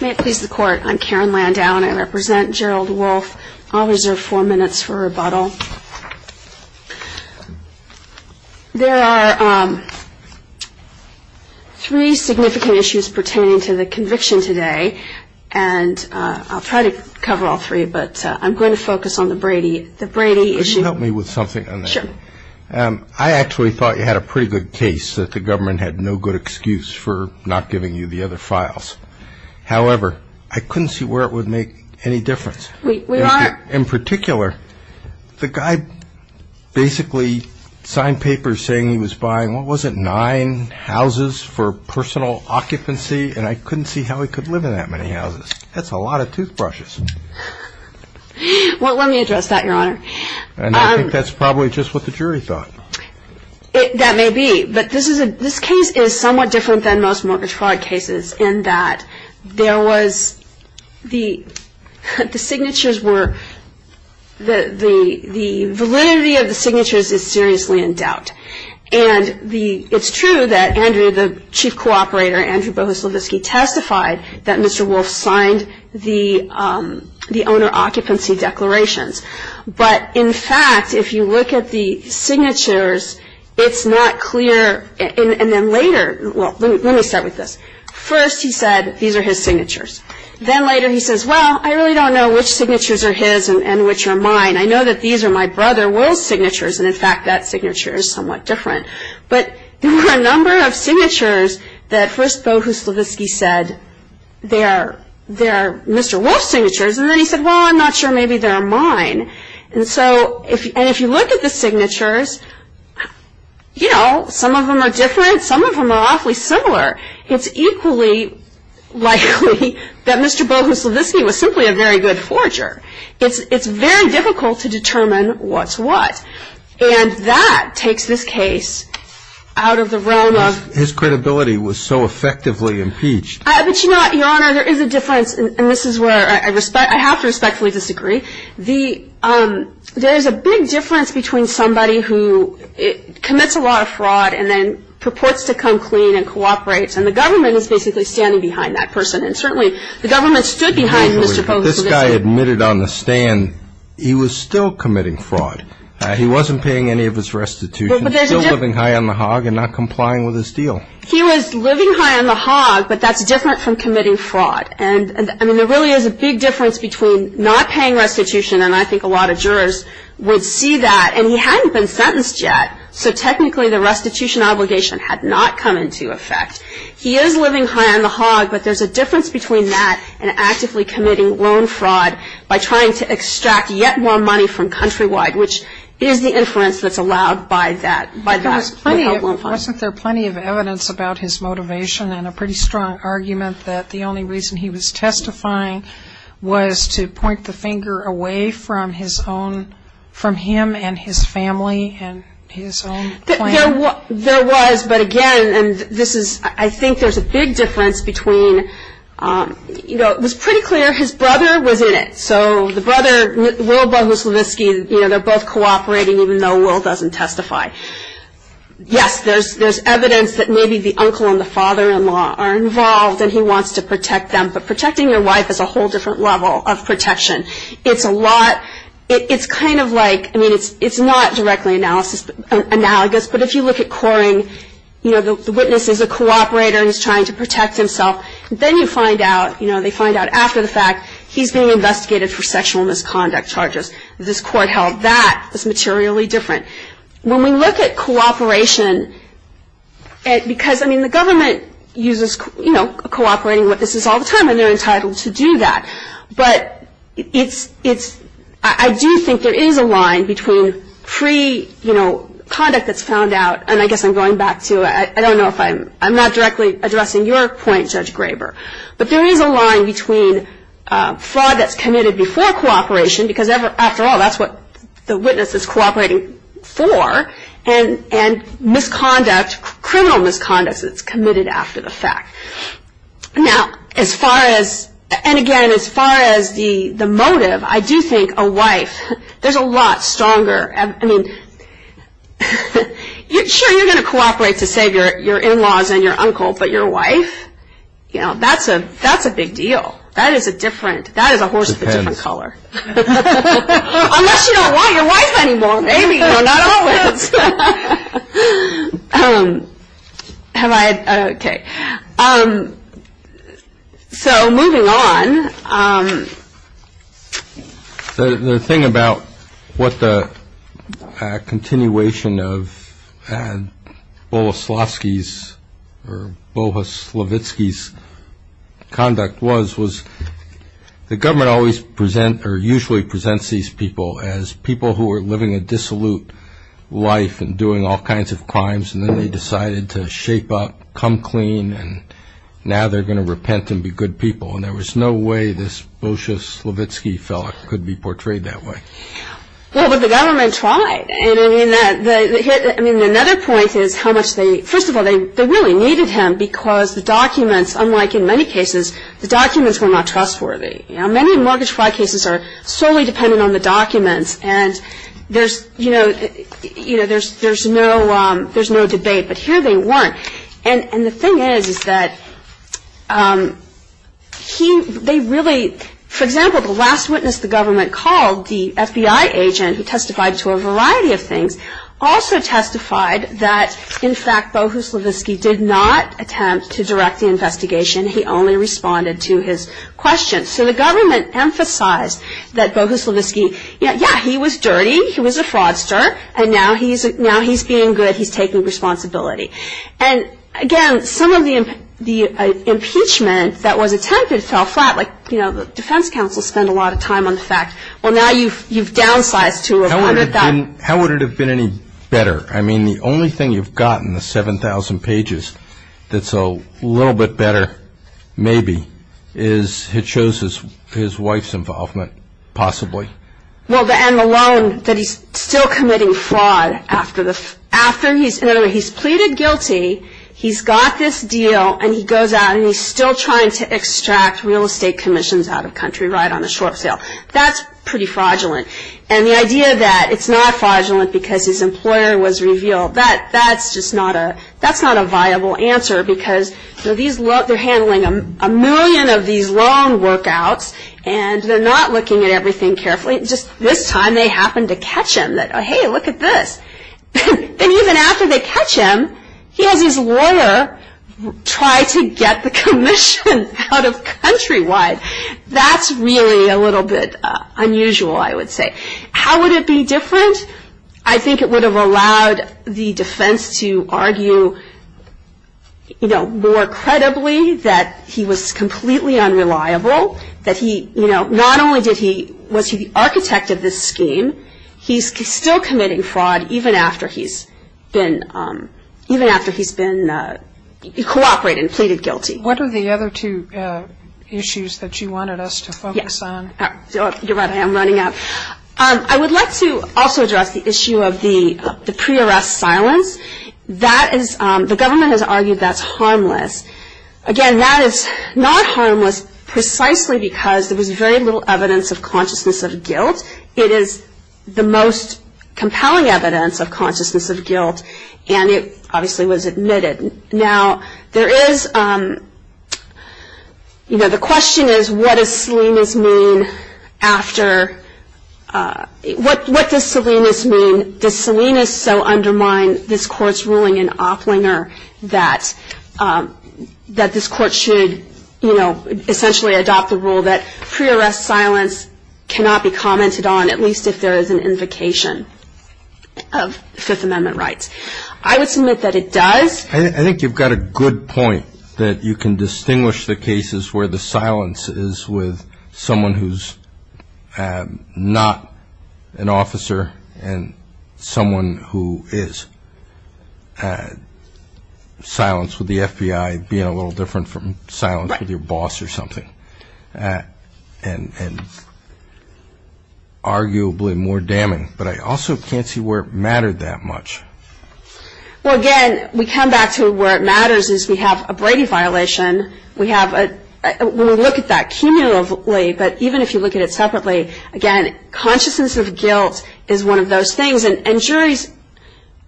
May it please the Court, I'm Karen Landau and I represent Gerald Wolfe. I'll reserve four minutes for rebuttal. There are three significant issues pertaining to the conviction today, and I'll try to cover all three, but I'm going to focus on the Brady issue. Could you help me with something on that? Sure. I actually thought you had a pretty good case that the government had no good excuse for not giving you the other files. However, I couldn't see where it would make any difference. We are. In particular, the guy basically signed papers saying he was buying, what was it, nine houses for personal occupancy, and I couldn't see how he could live in that many houses. That's a lot of toothbrushes. Well, let me address that, Your Honor. And I think that's probably just what the jury thought. That may be, but this case is somewhat different than most mortgage fraud cases in that there was the signatures were, the validity of the signatures is seriously in doubt. And it's true that Andrew, the chief cooperator, Andrew Bohuslavitsky, testified that Mr. Wolfe signed the owner occupancy declarations. But, in fact, if you look at the signatures, it's not clear, and then later, well, let me start with this. First he said these are his signatures. Then later he says, well, I really don't know which signatures are his and which are mine. I know that these are my brother Wolfe's signatures, and, in fact, that signature is somewhat different. But there were a number of signatures that first Bohuslavitsky said they are Mr. Wolfe's signatures, and then he said, well, I'm not sure maybe they're mine. And so if you look at the signatures, you know, some of them are different. Some of them are awfully similar. It's equally likely that Mr. Bohuslavitsky was simply a very good forger. It's very difficult to determine what's what. And that takes this case out of the realm of. His credibility was so effectively impeached. But, you know what, Your Honor, there is a difference, and this is where I have to respectfully disagree. There is a big difference between somebody who commits a lot of fraud and then purports to come clean and cooperate, and the government is basically standing behind that person. And certainly the government stood behind Mr. Bohuslavitsky. But this guy admitted on the stand he was still committing fraud. He wasn't paying any of his restitution, still living high on the hog and not complying with his deal. He was living high on the hog, but that's different from committing fraud. And, I mean, there really is a big difference between not paying restitution, and I think a lot of jurors would see that. And he hadn't been sentenced yet, so technically the restitution obligation had not come into effect. He is living high on the hog, but there's a difference between that and actively committing loan fraud by trying to extract yet more money from Countrywide, which is the inference that's allowed by that. Wasn't there plenty of evidence about his motivation and a pretty strong argument that the only reason he was testifying was to point the finger away from him and his family and his own plan? There was, but again, I think there's a big difference between, you know, it was pretty clear his brother was in it. So the brother, Will Bohuslavsky, you know, they're both cooperating even though Will doesn't testify. Yes, there's evidence that maybe the uncle and the father-in-law are involved and he wants to protect them, but protecting your wife is a whole different level of protection. It's a lot, it's kind of like, I mean, it's not directly analogous, but if you look at Coring, you know, the witness is a cooperator and he's trying to protect himself. Then you find out, you know, they find out after the fact he's being investigated for sexual misconduct charges. This court held that as materially different. When we look at cooperation, because, I mean, the government uses, you know, cooperating what this is all the time and they're entitled to do that. But it's, I do think there is a line between free, you know, conduct that's found out, and I guess I'm going back to, I don't know if I'm, I'm not directly addressing your point, Judge Graber, but there is a line between fraud that's committed before cooperation, because after all that's what the witness is cooperating for, and misconduct, criminal misconduct that's committed after the fact. Now, as far as, and again, as far as the motive, I do think a wife, there's a lot stronger, I mean, sure, you're going to cooperate to save your in-laws and your uncle, but your wife, you know, that's a big deal. That is a different, that is a horse of a different color. Unless you don't want your wife anymore, maybe, you know, not always. Have I, okay. So, moving on. The thing about what the continuation of Bohuslavsky's or Bohuslavitsky's conduct was, was the government always presents or usually presents these people as people who are living a dissolute life and doing all kinds of crimes, and then they decided to shape up, come clean, and now they're going to repent and be good people. And there was no way this Bohuslavitsky fellow could be portrayed that way. Well, but the government tried. I mean, another point is how much they, first of all, they really needed him because the documents, unlike in many cases, the documents were not trustworthy. You know, many mortgage fraud cases are solely dependent on the documents, and there's, you know, there's no debate, but here they weren't. And the thing is that he, they really, for example, the last witness the government called, the FBI agent who testified to a variety of things, also testified that, in fact, Bohuslavitsky did not attempt to direct the investigation. He only responded to his questions. So the government emphasized that Bohuslavitsky, yeah, he was dirty, he was a fraudster, and now he's being good, he's taking responsibility. And, again, some of the impeachment that was attempted fell flat. Like, you know, the defense counsel spent a lot of time on the fact, well, now you've downsized to 100,000. How would it have been any better? I mean, the only thing you've gotten, the 7,000 pages, that's a little bit better, maybe, is it shows his wife's involvement, possibly. Well, and the loan, that he's still committing fraud after he's, in other words, he's pleaded guilty, he's got this deal, and he goes out and he's still trying to extract real estate commissions out of country, right on a short sale. That's pretty fraudulent. And the idea that it's not fraudulent because his employer was revealed, that's just not a, that's not a viable answer because, you know, these, they're handling a million of these loan workouts, and they're not looking at everything carefully. Just this time they happened to catch him, that, hey, look at this. And even after they catch him, he has his lawyer try to get the commission out of country. Why? That's really a little bit unusual, I would say. How would it be different? I think it would have allowed the defense to argue, you know, more credibly that he was completely unreliable, that he, you know, not only did he, was he the architect of this scheme, he's still committing fraud even after he's been, even after he's been cooperating, pleaded guilty. What are the other two issues that you wanted us to focus on? You're right, I am running out. I would like to also address the issue of the pre-arrest silence. That is, the government has argued that's harmless. Again, that is not harmless precisely because there was very little evidence of consciousness of guilt. It is the most compelling evidence of consciousness of guilt, and it obviously was admitted. Now, there is, you know, the question is what does Salinas mean after, what does Salinas mean? Does Salinas so undermine this court's ruling in Opplinger that this court should, you know, essentially adopt the rule that pre-arrest silence cannot be commented on, at least if there is an invocation of Fifth Amendment rights? I would submit that it does. I think you've got a good point, that you can distinguish the cases where the silence is with someone who's not an officer and someone who is. Silence with the FBI being a little different from silence with your boss or something, and arguably more damning. But I also can't see where it mattered that much. Well, again, we come back to where it matters is we have a Brady violation. We have a, we'll look at that cumulatively, but even if you look at it separately, again, consciousness of guilt is one of those things. And juries,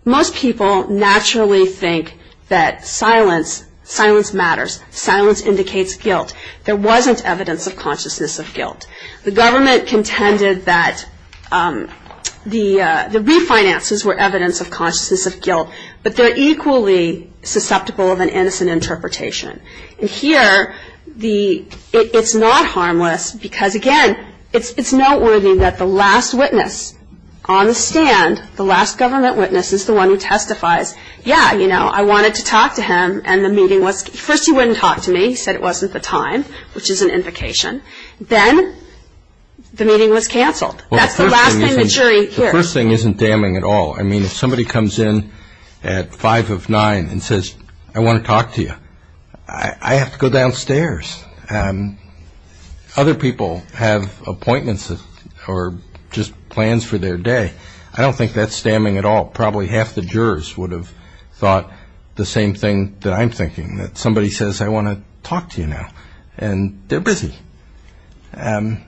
most people naturally think that silence, silence matters, silence indicates guilt. There wasn't evidence of consciousness of guilt. The government contended that the refinances were evidence of consciousness of guilt, but they're equally susceptible of an innocent interpretation. And here, the, it's not harmless because, again, it's noteworthy that the last witness on the stand, the last government witness is the one who testifies, yeah, you know, I wanted to talk to him, and the meeting was, first he wouldn't talk to me. He said it wasn't the time, which is an invocation. Then the meeting was canceled. That's the last thing the jury hears. The first thing isn't damning at all. I mean, if somebody comes in at five of nine and says, I want to talk to you, I have to go downstairs. Other people have appointments or just plans for their day. I don't think that's damning at all. Probably half the jurors would have thought the same thing that I'm thinking, that somebody says, I want to talk to you now, and they're busy. But then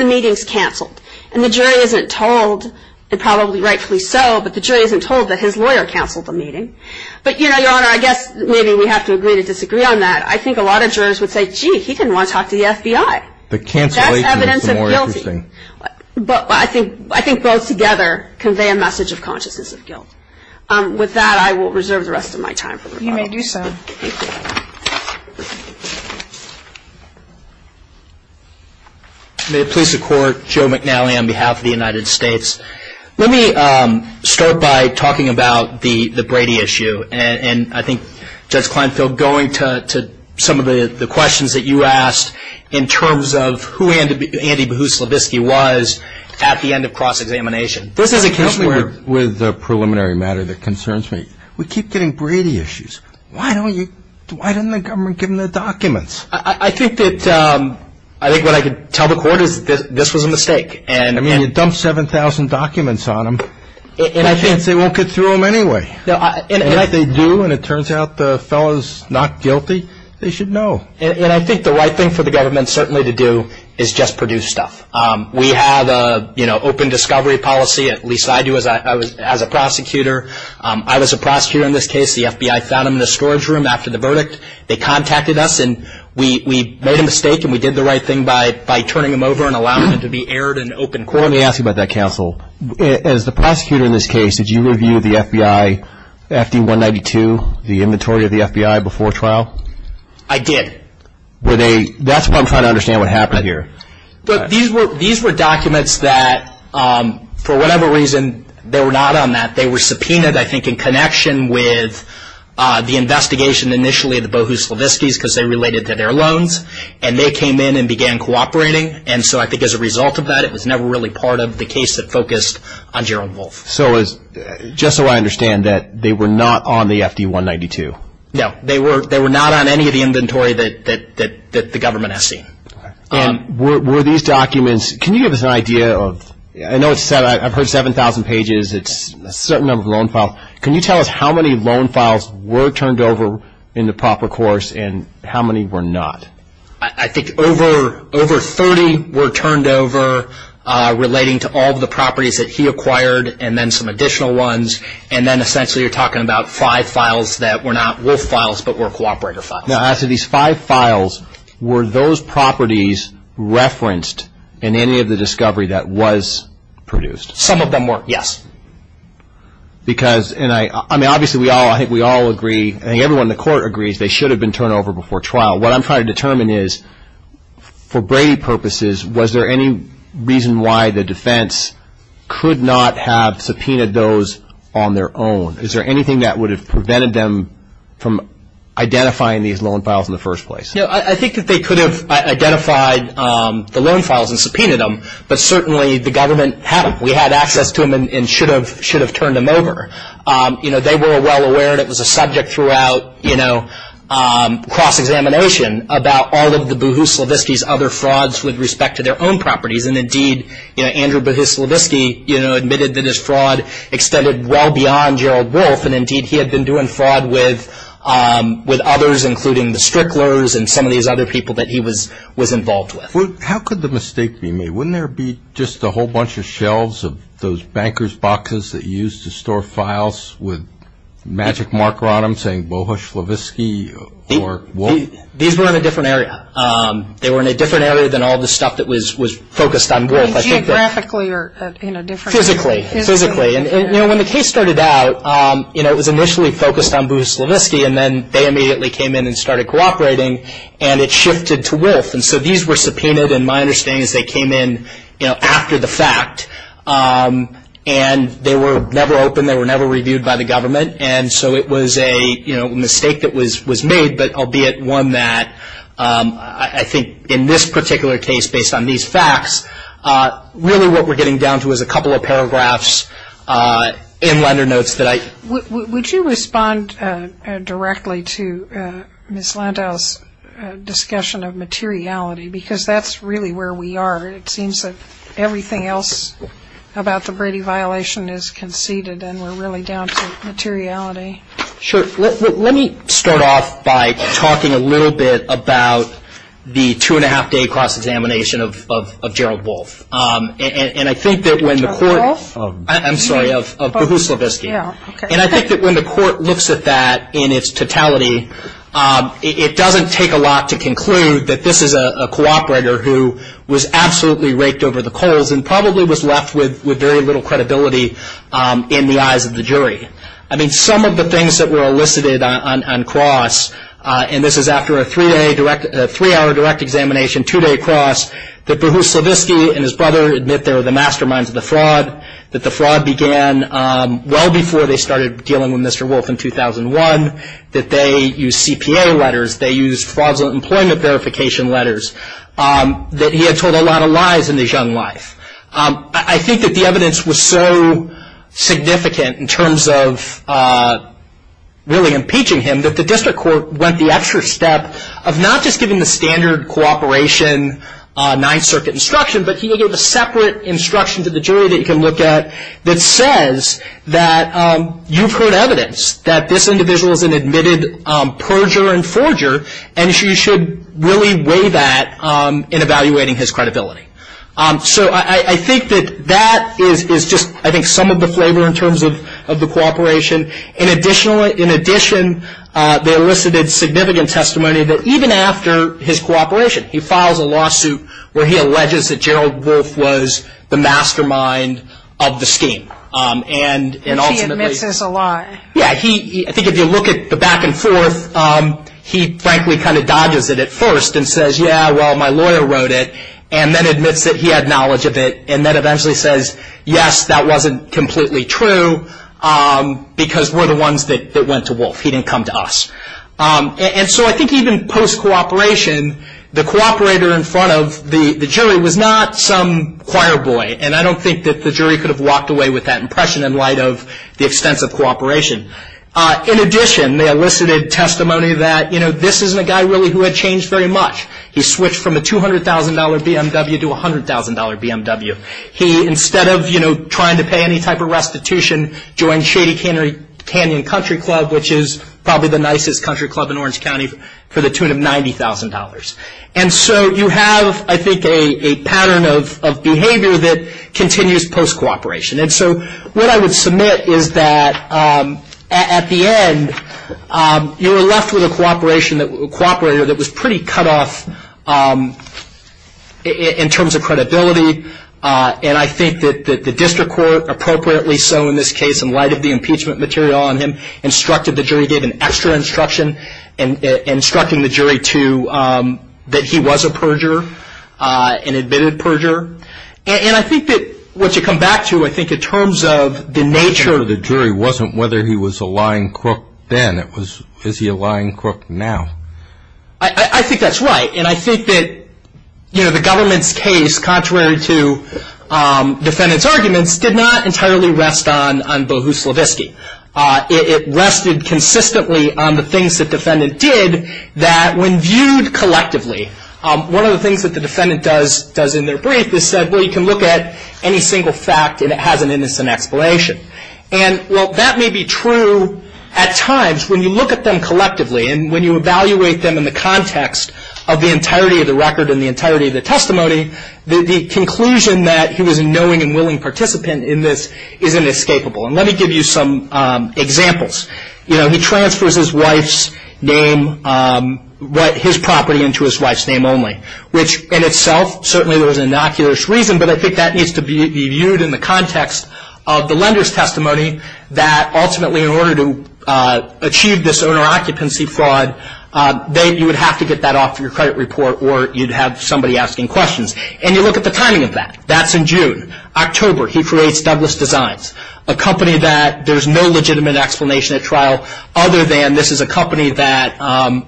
the meeting's canceled. And the jury isn't told, and probably rightfully so, but the jury isn't told that his lawyer canceled the meeting. But, you know, Your Honor, I guess maybe we have to agree to disagree on that. I think a lot of jurors would say, gee, he didn't want to talk to the FBI. The cancellation is more interesting. That's evidence of guilty. But I think both together convey a message of consciousness of guilt. With that, I will reserve the rest of my time for the rebuttal. You may do so. Thank you. Thank you. May it please the Court, Joe McNally on behalf of the United States. Let me start by talking about the Brady issue. And I think, Judge Kleinfeld, going to some of the questions that you asked in terms of who Andy Bohuslavsky was at the end of cross-examination. This is a case where, with the preliminary matter that concerns me, we keep getting Brady issues. Why didn't the government give him the documents? I think what I could tell the Court is that this was a mistake. I mean, you dump 7,000 documents on him, and I think they won't get through him anyway. And if they do, and it turns out the fellow is not guilty, they should know. And I think the right thing for the government certainly to do is just produce stuff. We have an open discovery policy, at least I do as a prosecutor. I was a prosecutor in this case. The FBI found him in the storage room after the verdict. They contacted us, and we made a mistake, and we did the right thing by turning him over and allowing him to be aired in open court. Let me ask you about that, counsel. As the prosecutor in this case, did you review the FBI, FD-192, the inventory of the FBI before trial? I did. Were they – that's what I'm trying to understand what happened here. These were documents that, for whatever reason, they were not on that. They were subpoenaed, I think, in connection with the investigation initially of the Bohuslavskys because they related to their loans, and they came in and began cooperating. And so I think as a result of that, it was never really part of the case that focused on Gerald Wolff. So just so I understand that they were not on the FD-192. No, they were not on any of the inventory that the government has seen. And were these documents – can you give us an idea of – I know it's – I've heard 7,000 pages. It's a certain number of loan files. Can you tell us how many loan files were turned over in the proper course and how many were not? I think over 30 were turned over relating to all of the properties that he acquired and then some additional ones, and then essentially you're talking about five files that were not Wolff files but were cooperator files. Now, as to these five files, were those properties referenced in any of the discovery that was produced? Some of them were, yes. Because – and I – I mean, obviously we all – I think we all agree – I think everyone in the court agrees they should have been turned over before trial. What I'm trying to determine is for Brady purposes, was there any reason why the defense could not have subpoenaed those on their own? Is there anything that would have prevented them from identifying these loan files in the first place? I think that they could have identified the loan files and subpoenaed them, but certainly the government had them. We had access to them and should have turned them over. You know, they were well aware, and it was a subject throughout cross-examination, about all of the Bohuslavisky's other frauds with respect to their own properties, and indeed Andrew Bohuslavisky admitted that his fraud extended well beyond Gerald Wolff, and indeed he had been doing fraud with others, including the Stricklers and some of these other people that he was involved with. How could the mistake be made? Wouldn't there be just a whole bunch of shelves of those banker's boxes that he used to store files with the magic marker on them saying Bohuslavisky or Wolff? These were in a different area. They were in a different area than all the stuff that was focused on Wolff. Geographically or, you know, different? Physically. Physically. You know, when the case started out, you know, it was initially focused on Bohuslavisky, and then they immediately came in and started cooperating, and it shifted to Wolff, and so these were subpoenaed, and my understanding is they came in, you know, after the fact, and they were never opened, they were never reviewed by the government, and so it was a mistake that was made, but albeit one that I think in this particular case, based on these facts, really what we're getting down to is a couple of paragraphs in lender notes that I Would you respond directly to Ms. Landau's discussion of materiality? Because that's really where we are. It seems that everything else about the Brady violation is conceded, and we're really down to materiality. Sure. Let me start off by talking a little bit about the two-and-a-half-day cross-examination of Gerald Wolff, and I think that when the court – Of Wolff? I'm sorry, of Bohuslavisky, and I think that when the court looks at that in its totality, it doesn't take a lot to conclude that this is a cooperator who was absolutely raked over the coals and probably was left with very little credibility in the eyes of the jury. I mean, some of the things that were elicited on cross, and this is after a three-hour direct examination, and two-day cross, that Bohuslavisky and his brother admit they were the masterminds of the fraud, that the fraud began well before they started dealing with Mr. Wolff in 2001, that they used CPA letters, they used fraudulent employment verification letters, that he had told a lot of lies in his young life. I think that the evidence was so significant in terms of really impeaching him that the district court went the extra step of not just giving the standard cooperation Ninth Circuit instruction, but he gave a separate instruction to the jury that you can look at that says that you've heard evidence that this individual is an admitted perjurer and forger, and you should really weigh that in evaluating his credibility. So I think that that is just, I think, some of the flavor in terms of the cooperation. In addition, they elicited significant testimony that even after his cooperation, he files a lawsuit where he alleges that Gerald Wolff was the mastermind of the scheme, and ultimately- He admits as a liar. Yeah. I think if you look at the back and forth, he frankly kind of dodges it at first and says, yeah, well, my lawyer wrote it, and then admits that he had knowledge of it, and then eventually says, yes, that wasn't completely true because we're the ones that went to Wolff. He didn't come to us. And so I think even post-cooperation, the cooperator in front of the jury was not some choir boy, and I don't think that the jury could have walked away with that impression in light of the extensive cooperation. In addition, they elicited testimony that, you know, this isn't a guy really who had changed very much. He switched from a $200,000 BMW to a $100,000 BMW. He, instead of, you know, trying to pay any type of restitution, joined Shady Canyon Country Club, which is probably the nicest country club in Orange County, for the tune of $90,000. And so you have, I think, a pattern of behavior that continues post-cooperation. And so what I would submit is that at the end, you're left with a cooperator that was pretty cut off in terms of credibility. And I think that the district court, appropriately so in this case, in light of the impeachment material on him, instructed the jury, gave an extra instruction instructing the jury that he was a perjurer, an admitted perjurer. And I think that what you come back to, I think, in terms of the nature of the jury, wasn't whether he was a lying crook then. It was, is he a lying crook now? I think that's right. And I think that, you know, the government's case, contrary to defendant's arguments, did not entirely rest on Bohuslavisky. It rested consistently on the things that defendant did that, when viewed collectively, one of the things that the defendant does in their brief is said, well, you can look at any single fact and it has an innocent explanation. And, well, that may be true at times when you look at them collectively and when you evaluate them in the context of the entirety of the record and the entirety of the testimony, the conclusion that he was a knowing and willing participant in this isn't escapable. And let me give you some examples. You know, he transfers his wife's name, his property into his wife's name only, which in itself, certainly there was innocuous reason, but I think that needs to be viewed in the context of the lender's testimony that ultimately in order to achieve this owner occupancy fraud, you would have to get that off your credit report or you'd have somebody asking questions. And you look at the timing of that. That's in June. October, he creates Douglas Designs, a company that there's no legitimate explanation at trial other than this is a company that,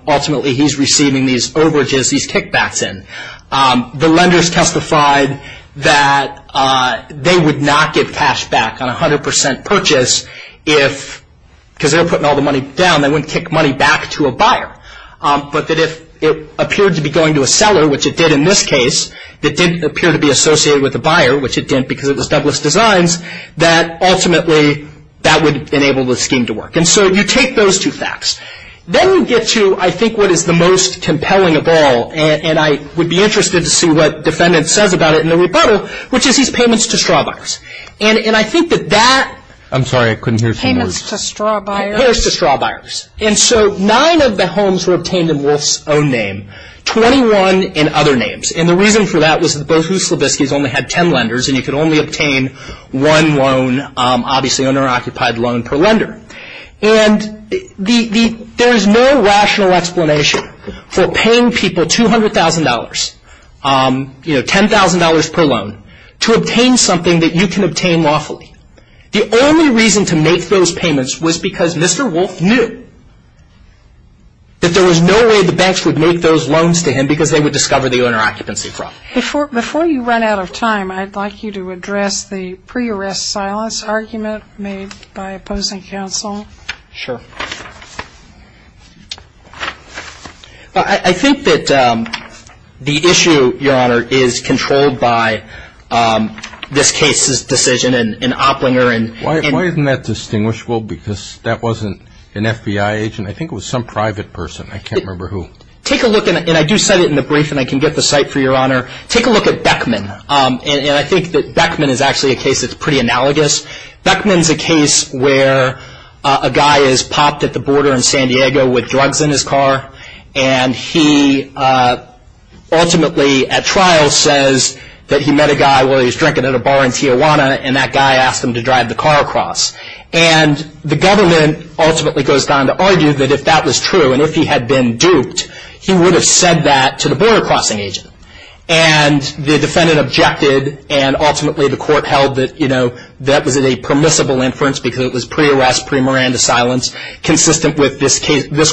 ultimately, he's receiving these overages, these kickbacks in. The lenders testified that they would not get cash back on 100% purchase if, because they were putting all the money down, they wouldn't kick money back to a buyer, but that if it appeared to be going to a seller, which it did in this case, it didn't appear to be associated with a buyer, which it didn't because it was Douglas Designs, that ultimately that would enable the scheme to work. And so you take those two facts. Then you get to, I think, what is the most compelling of all, and I would be interested to see what the defendant says about it in the rebuttal, which is he's payments to straw buyers. And I think that that. I'm sorry. I couldn't hear you. Payments to straw buyers. Payments to straw buyers. And so nine of the homes were obtained in Wolf's own name, 21 in other names. And the reason for that was that both of the Slaviskys only had ten lenders, and you could only obtain one loan, obviously, owner-occupied loan per lender. And there is no rational explanation for paying people $200,000, you know, $10,000 per loan, to obtain something that you can obtain lawfully. The only reason to make those payments was because Mr. Wolf knew that there was no way the banks would make those loans to him because they would discover the owner-occupancy problem. Before you run out of time, I'd like you to address the pre-arrest silence argument made by opposing counsel. Sure. I think that the issue, Your Honor, is controlled by this case's decision in Opplinger. Why isn't that distinguishable? Because that wasn't an FBI agent. I think it was some private person. I can't remember who. And I do cite it in the brief, and I can get the cite for you, Your Honor. Take a look at Beckman. And I think that Beckman is actually a case that's pretty analogous. Beckman's a case where a guy is popped at the border in San Diego with drugs in his car, and he ultimately, at trial, says that he met a guy while he was drinking at a bar in Tijuana, and that guy asked him to drive the car across. And the government ultimately goes on to argue that if that was true, and if he had been duped, he would have said that to the border-crossing agent. And the defendant objected, and ultimately the court held that that was a permissible inference because it was pre-arrest, pre-Miranda silence, consistent with this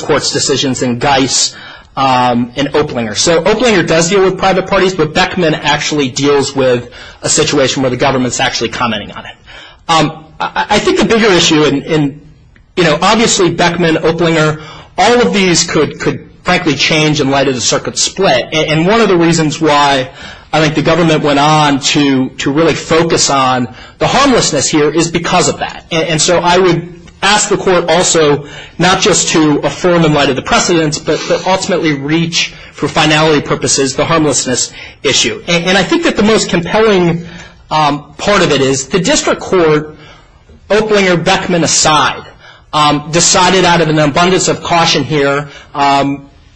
court's decisions in Geis and Opplinger. So Opplinger does deal with private parties, but Beckman actually deals with a situation where the government's actually commenting on it. I think the bigger issue, and, you know, obviously Beckman, Opplinger, all of these could frankly change in light of the circuit split. And one of the reasons why I think the government went on to really focus on the harmlessness here is because of that. And so I would ask the court also not just to affirm in light of the precedents, but ultimately reach for finality purposes the harmlessness issue. And I think that the most compelling part of it is the district court, Opplinger, Beckman aside, decided out of an abundance of caution here,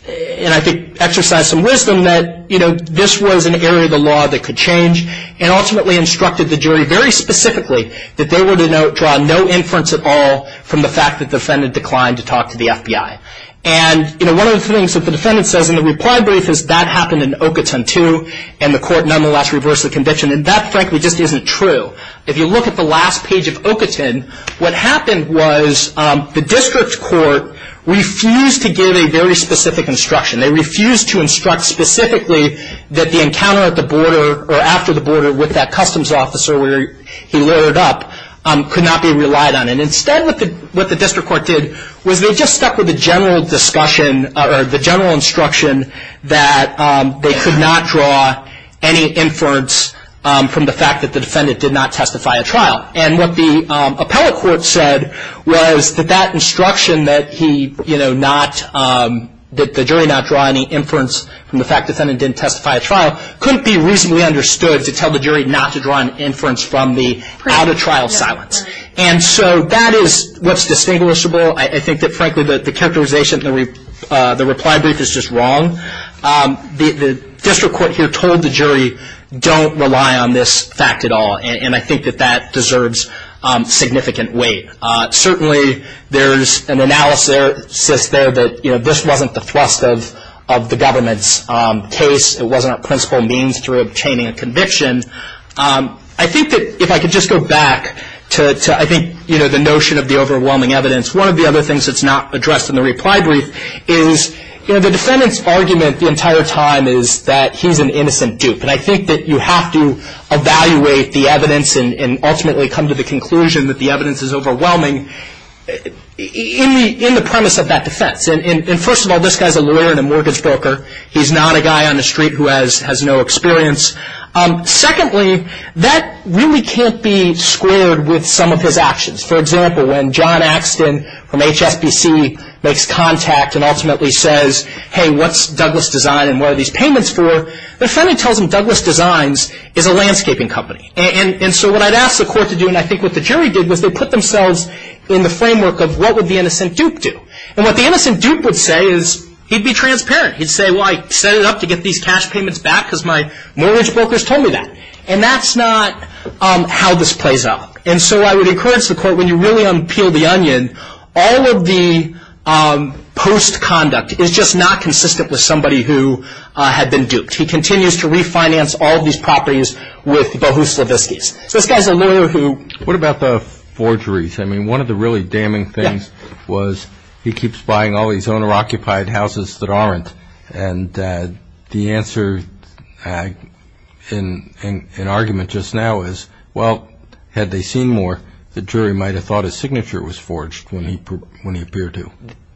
and I think exercised some wisdom that, you know, this was an area of the law that could change, and ultimately instructed the jury very specifically that they were to draw no inference at all from the fact that the defendant declined to talk to the FBI. And, you know, one of the things that the defendant says in the reply brief is, that happened in Ocoton, too, and the court nonetheless reversed the conviction. And that frankly just isn't true. If you look at the last page of Ocoton, what happened was the district court refused to give a very specific instruction. They refused to instruct specifically that the encounter at the border or after the border with that customs officer where he loaded up could not be relied on. And instead what the district court did was they just stuck with the general discussion or the general instruction that they could not draw any inference from the fact that the defendant did not testify at trial. And what the appellate court said was that that instruction that he, you know, not that the jury not draw any inference from the fact the defendant didn't testify at trial couldn't be reasonably understood to tell the jury not to draw an inference from the out of trial silence. And so that is what's distinguishable. I think that frankly the characterization in the reply brief is just wrong. The district court here told the jury don't rely on this fact at all. And I think that that deserves significant weight. Certainly there's an analysis there that, you know, this wasn't the thrust of the government's case. It wasn't a principal means through obtaining a conviction. I think that if I could just go back to, I think, you know, the notion of the overwhelming evidence, one of the other things that's not addressed in the reply brief is, you know, the defendant's argument the entire time is that he's an innocent dupe. And I think that you have to evaluate the evidence and ultimately come to the conclusion that the evidence is overwhelming in the premise of that defense. And first of all, this guy's a lawyer and a mortgage broker. He's not a guy on the street who has no experience. Secondly, that really can't be squared with some of his actions. For example, when John Axton from HSBC makes contact and ultimately says, hey, what's Douglas Design and what are these payments for, the defendant tells him Douglas Designs is a landscaping company. And so what I'd ask the court to do, and I think what the jury did, was they put themselves in the framework of what would the innocent dupe do. And what the innocent dupe would say is he'd be transparent. He'd say, well, I set it up to get these cash payments back because my mortgage brokers told me that. And that's not how this plays out. And so I would encourage the court, when you really unpeel the onion, all of the post-conduct is just not consistent with somebody who had been duped. He continues to refinance all of these properties with Bohuslaviskis. So this guy's a lawyer who. What about the forgeries? I mean, one of the really damning things was he keeps buying all these owner-occupied houses that aren't. And the answer in argument just now is, well, had they seen more, the jury might have thought a signature was forged when he appeared to.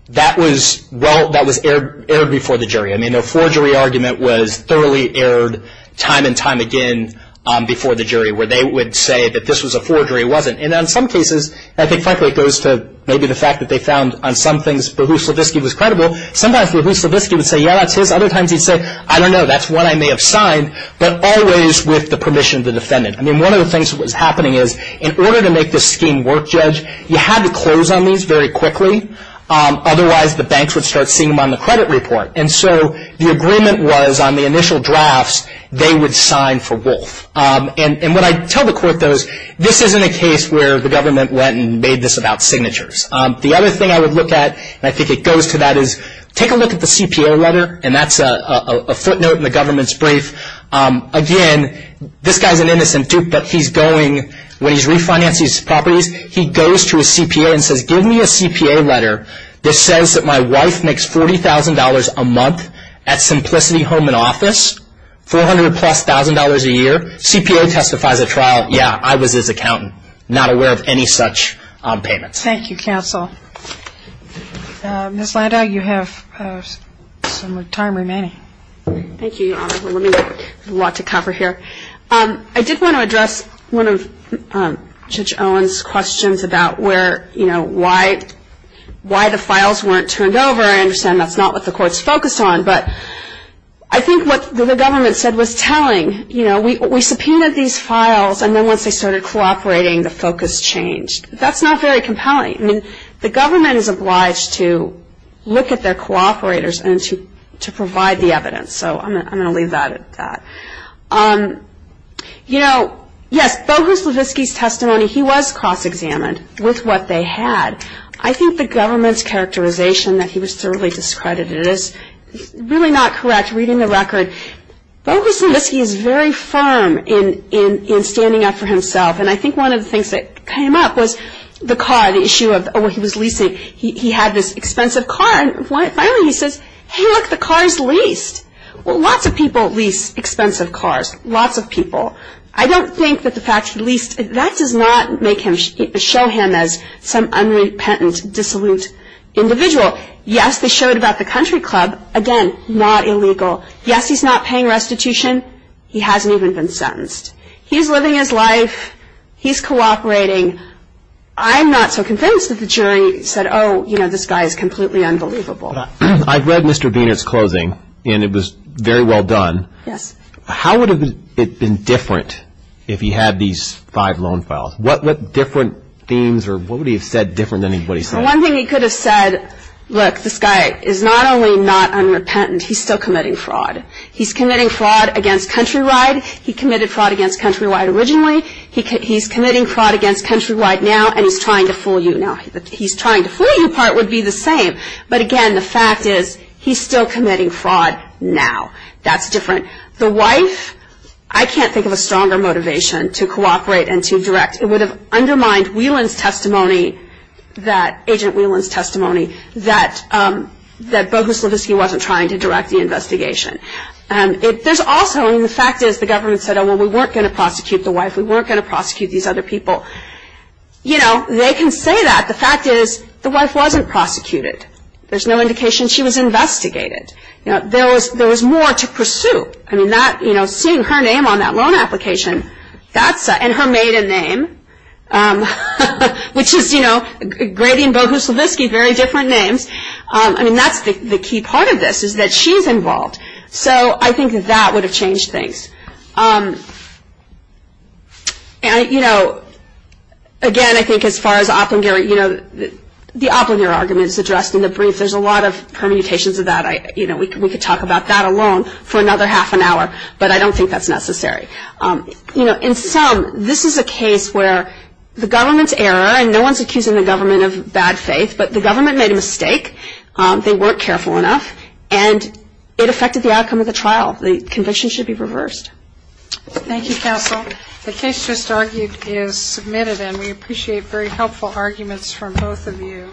That was, well, that was aired before the jury. I mean, a forgery argument was thoroughly aired time and time again before the jury, where they would say that this was a forgery. It wasn't. And in some cases, I think frankly it goes to maybe the fact that they found on some things Bohuslaviski was credible. Sometimes Bohuslaviski would say, yeah, that's his. Other times he'd say, I don't know, that's one I may have signed, but always with the permission of the defendant. I mean, one of the things that was happening is in order to make this scheme work, Judge, you had to close on these very quickly. Otherwise, the banks would start seeing them on the credit report. And so the agreement was on the initial drafts, they would sign for Wolf. And what I tell the court, though, is this isn't a case where the government went and made this about signatures. The other thing I would look at, and I think it goes to that, is take a look at the CPA letter, and that's a footnote in the government's brief. Again, this guy's an innocent duke, but he's going, when he's refinancing his properties, he goes to his CPA and says, give me a CPA letter that says that my wife makes $40,000 a month at Simplicity Home and Office, $400,000-plus a year. CPA testifies at trial, yeah, I was his accountant, not aware of any such payments. Thank you, counsel. Ms. Landau, you have some time remaining. Thank you, Your Honor. We have a lot to cover here. I did want to address one of Judge Owen's questions about why the files weren't turned over. I understand that's not what the court's focused on. But I think what the government said was telling, you know, we subpoenaed these files, and then once they started cooperating, the focus changed. That's not very compelling. I mean, the government is obliged to look at their cooperators and to provide the evidence. So I'm going to leave that at that. You know, yes, Bogus Levitsky's testimony, he was cross-examined with what they had. I think the government's characterization that he was thoroughly discredited is really not correct. Reading the record, Bogus Levitsky is very firm in standing up for himself. And I think one of the things that came up was the car, the issue of, oh, he was leasing. He had this expensive car, and finally he says, hey, look, the car is leased. Well, lots of people lease expensive cars, lots of people. I don't think that the fact he leased, that does not show him as some unrepentant, dissolute individual. Yes, they showed about the country club. Again, not illegal. Yes, he's not paying restitution. He hasn't even been sentenced. He's living his life. He's cooperating. I'm not so convinced that the jury said, oh, you know, this guy is completely unbelievable. I've read Mr. Biener's closing, and it was very well done. Yes. How would it have been different if he had these five loan files? What different themes or what would he have said different than what he said? One thing he could have said, look, this guy is not only not unrepentant, he's still committing fraud. He's committing fraud against Countrywide. He committed fraud against Countrywide originally. He's committing fraud against Countrywide now, and he's trying to fool you now. The he's trying to fool you part would be the same. But, again, the fact is he's still committing fraud now. That's different. The wife, I can't think of a stronger motivation to cooperate and to direct. It would have undermined Whelan's testimony, that Agent Whelan's testimony, that Bogus Levitsky wasn't trying to direct the investigation. There's also, I mean, the fact is the government said, oh, well, we weren't going to prosecute the wife. We weren't going to prosecute these other people. You know, they can say that. The fact is the wife wasn't prosecuted. There's no indication she was investigated. You know, there was more to pursue. I mean, that, you know, seeing her name on that loan application, that's, and her maiden name, which is, you know, Grady and Bogus Levitsky, very different names. I mean, that's the key part of this is that she's involved. So I think that would have changed things. And, you know, again, I think as far as Oplinger, you know, the Oplinger argument is addressed in the brief. There's a lot of permutations of that. You know, we could talk about that alone for another half an hour, but I don't think that's necessary. You know, in sum, this is a case where the government's error, and no one's accusing the government of bad faith, but the government made a mistake. They weren't careful enough, and it affected the outcome of the trial. The conviction should be reversed. Thank you, counsel. The case just argued is submitted, and we appreciate very helpful arguments from both of you.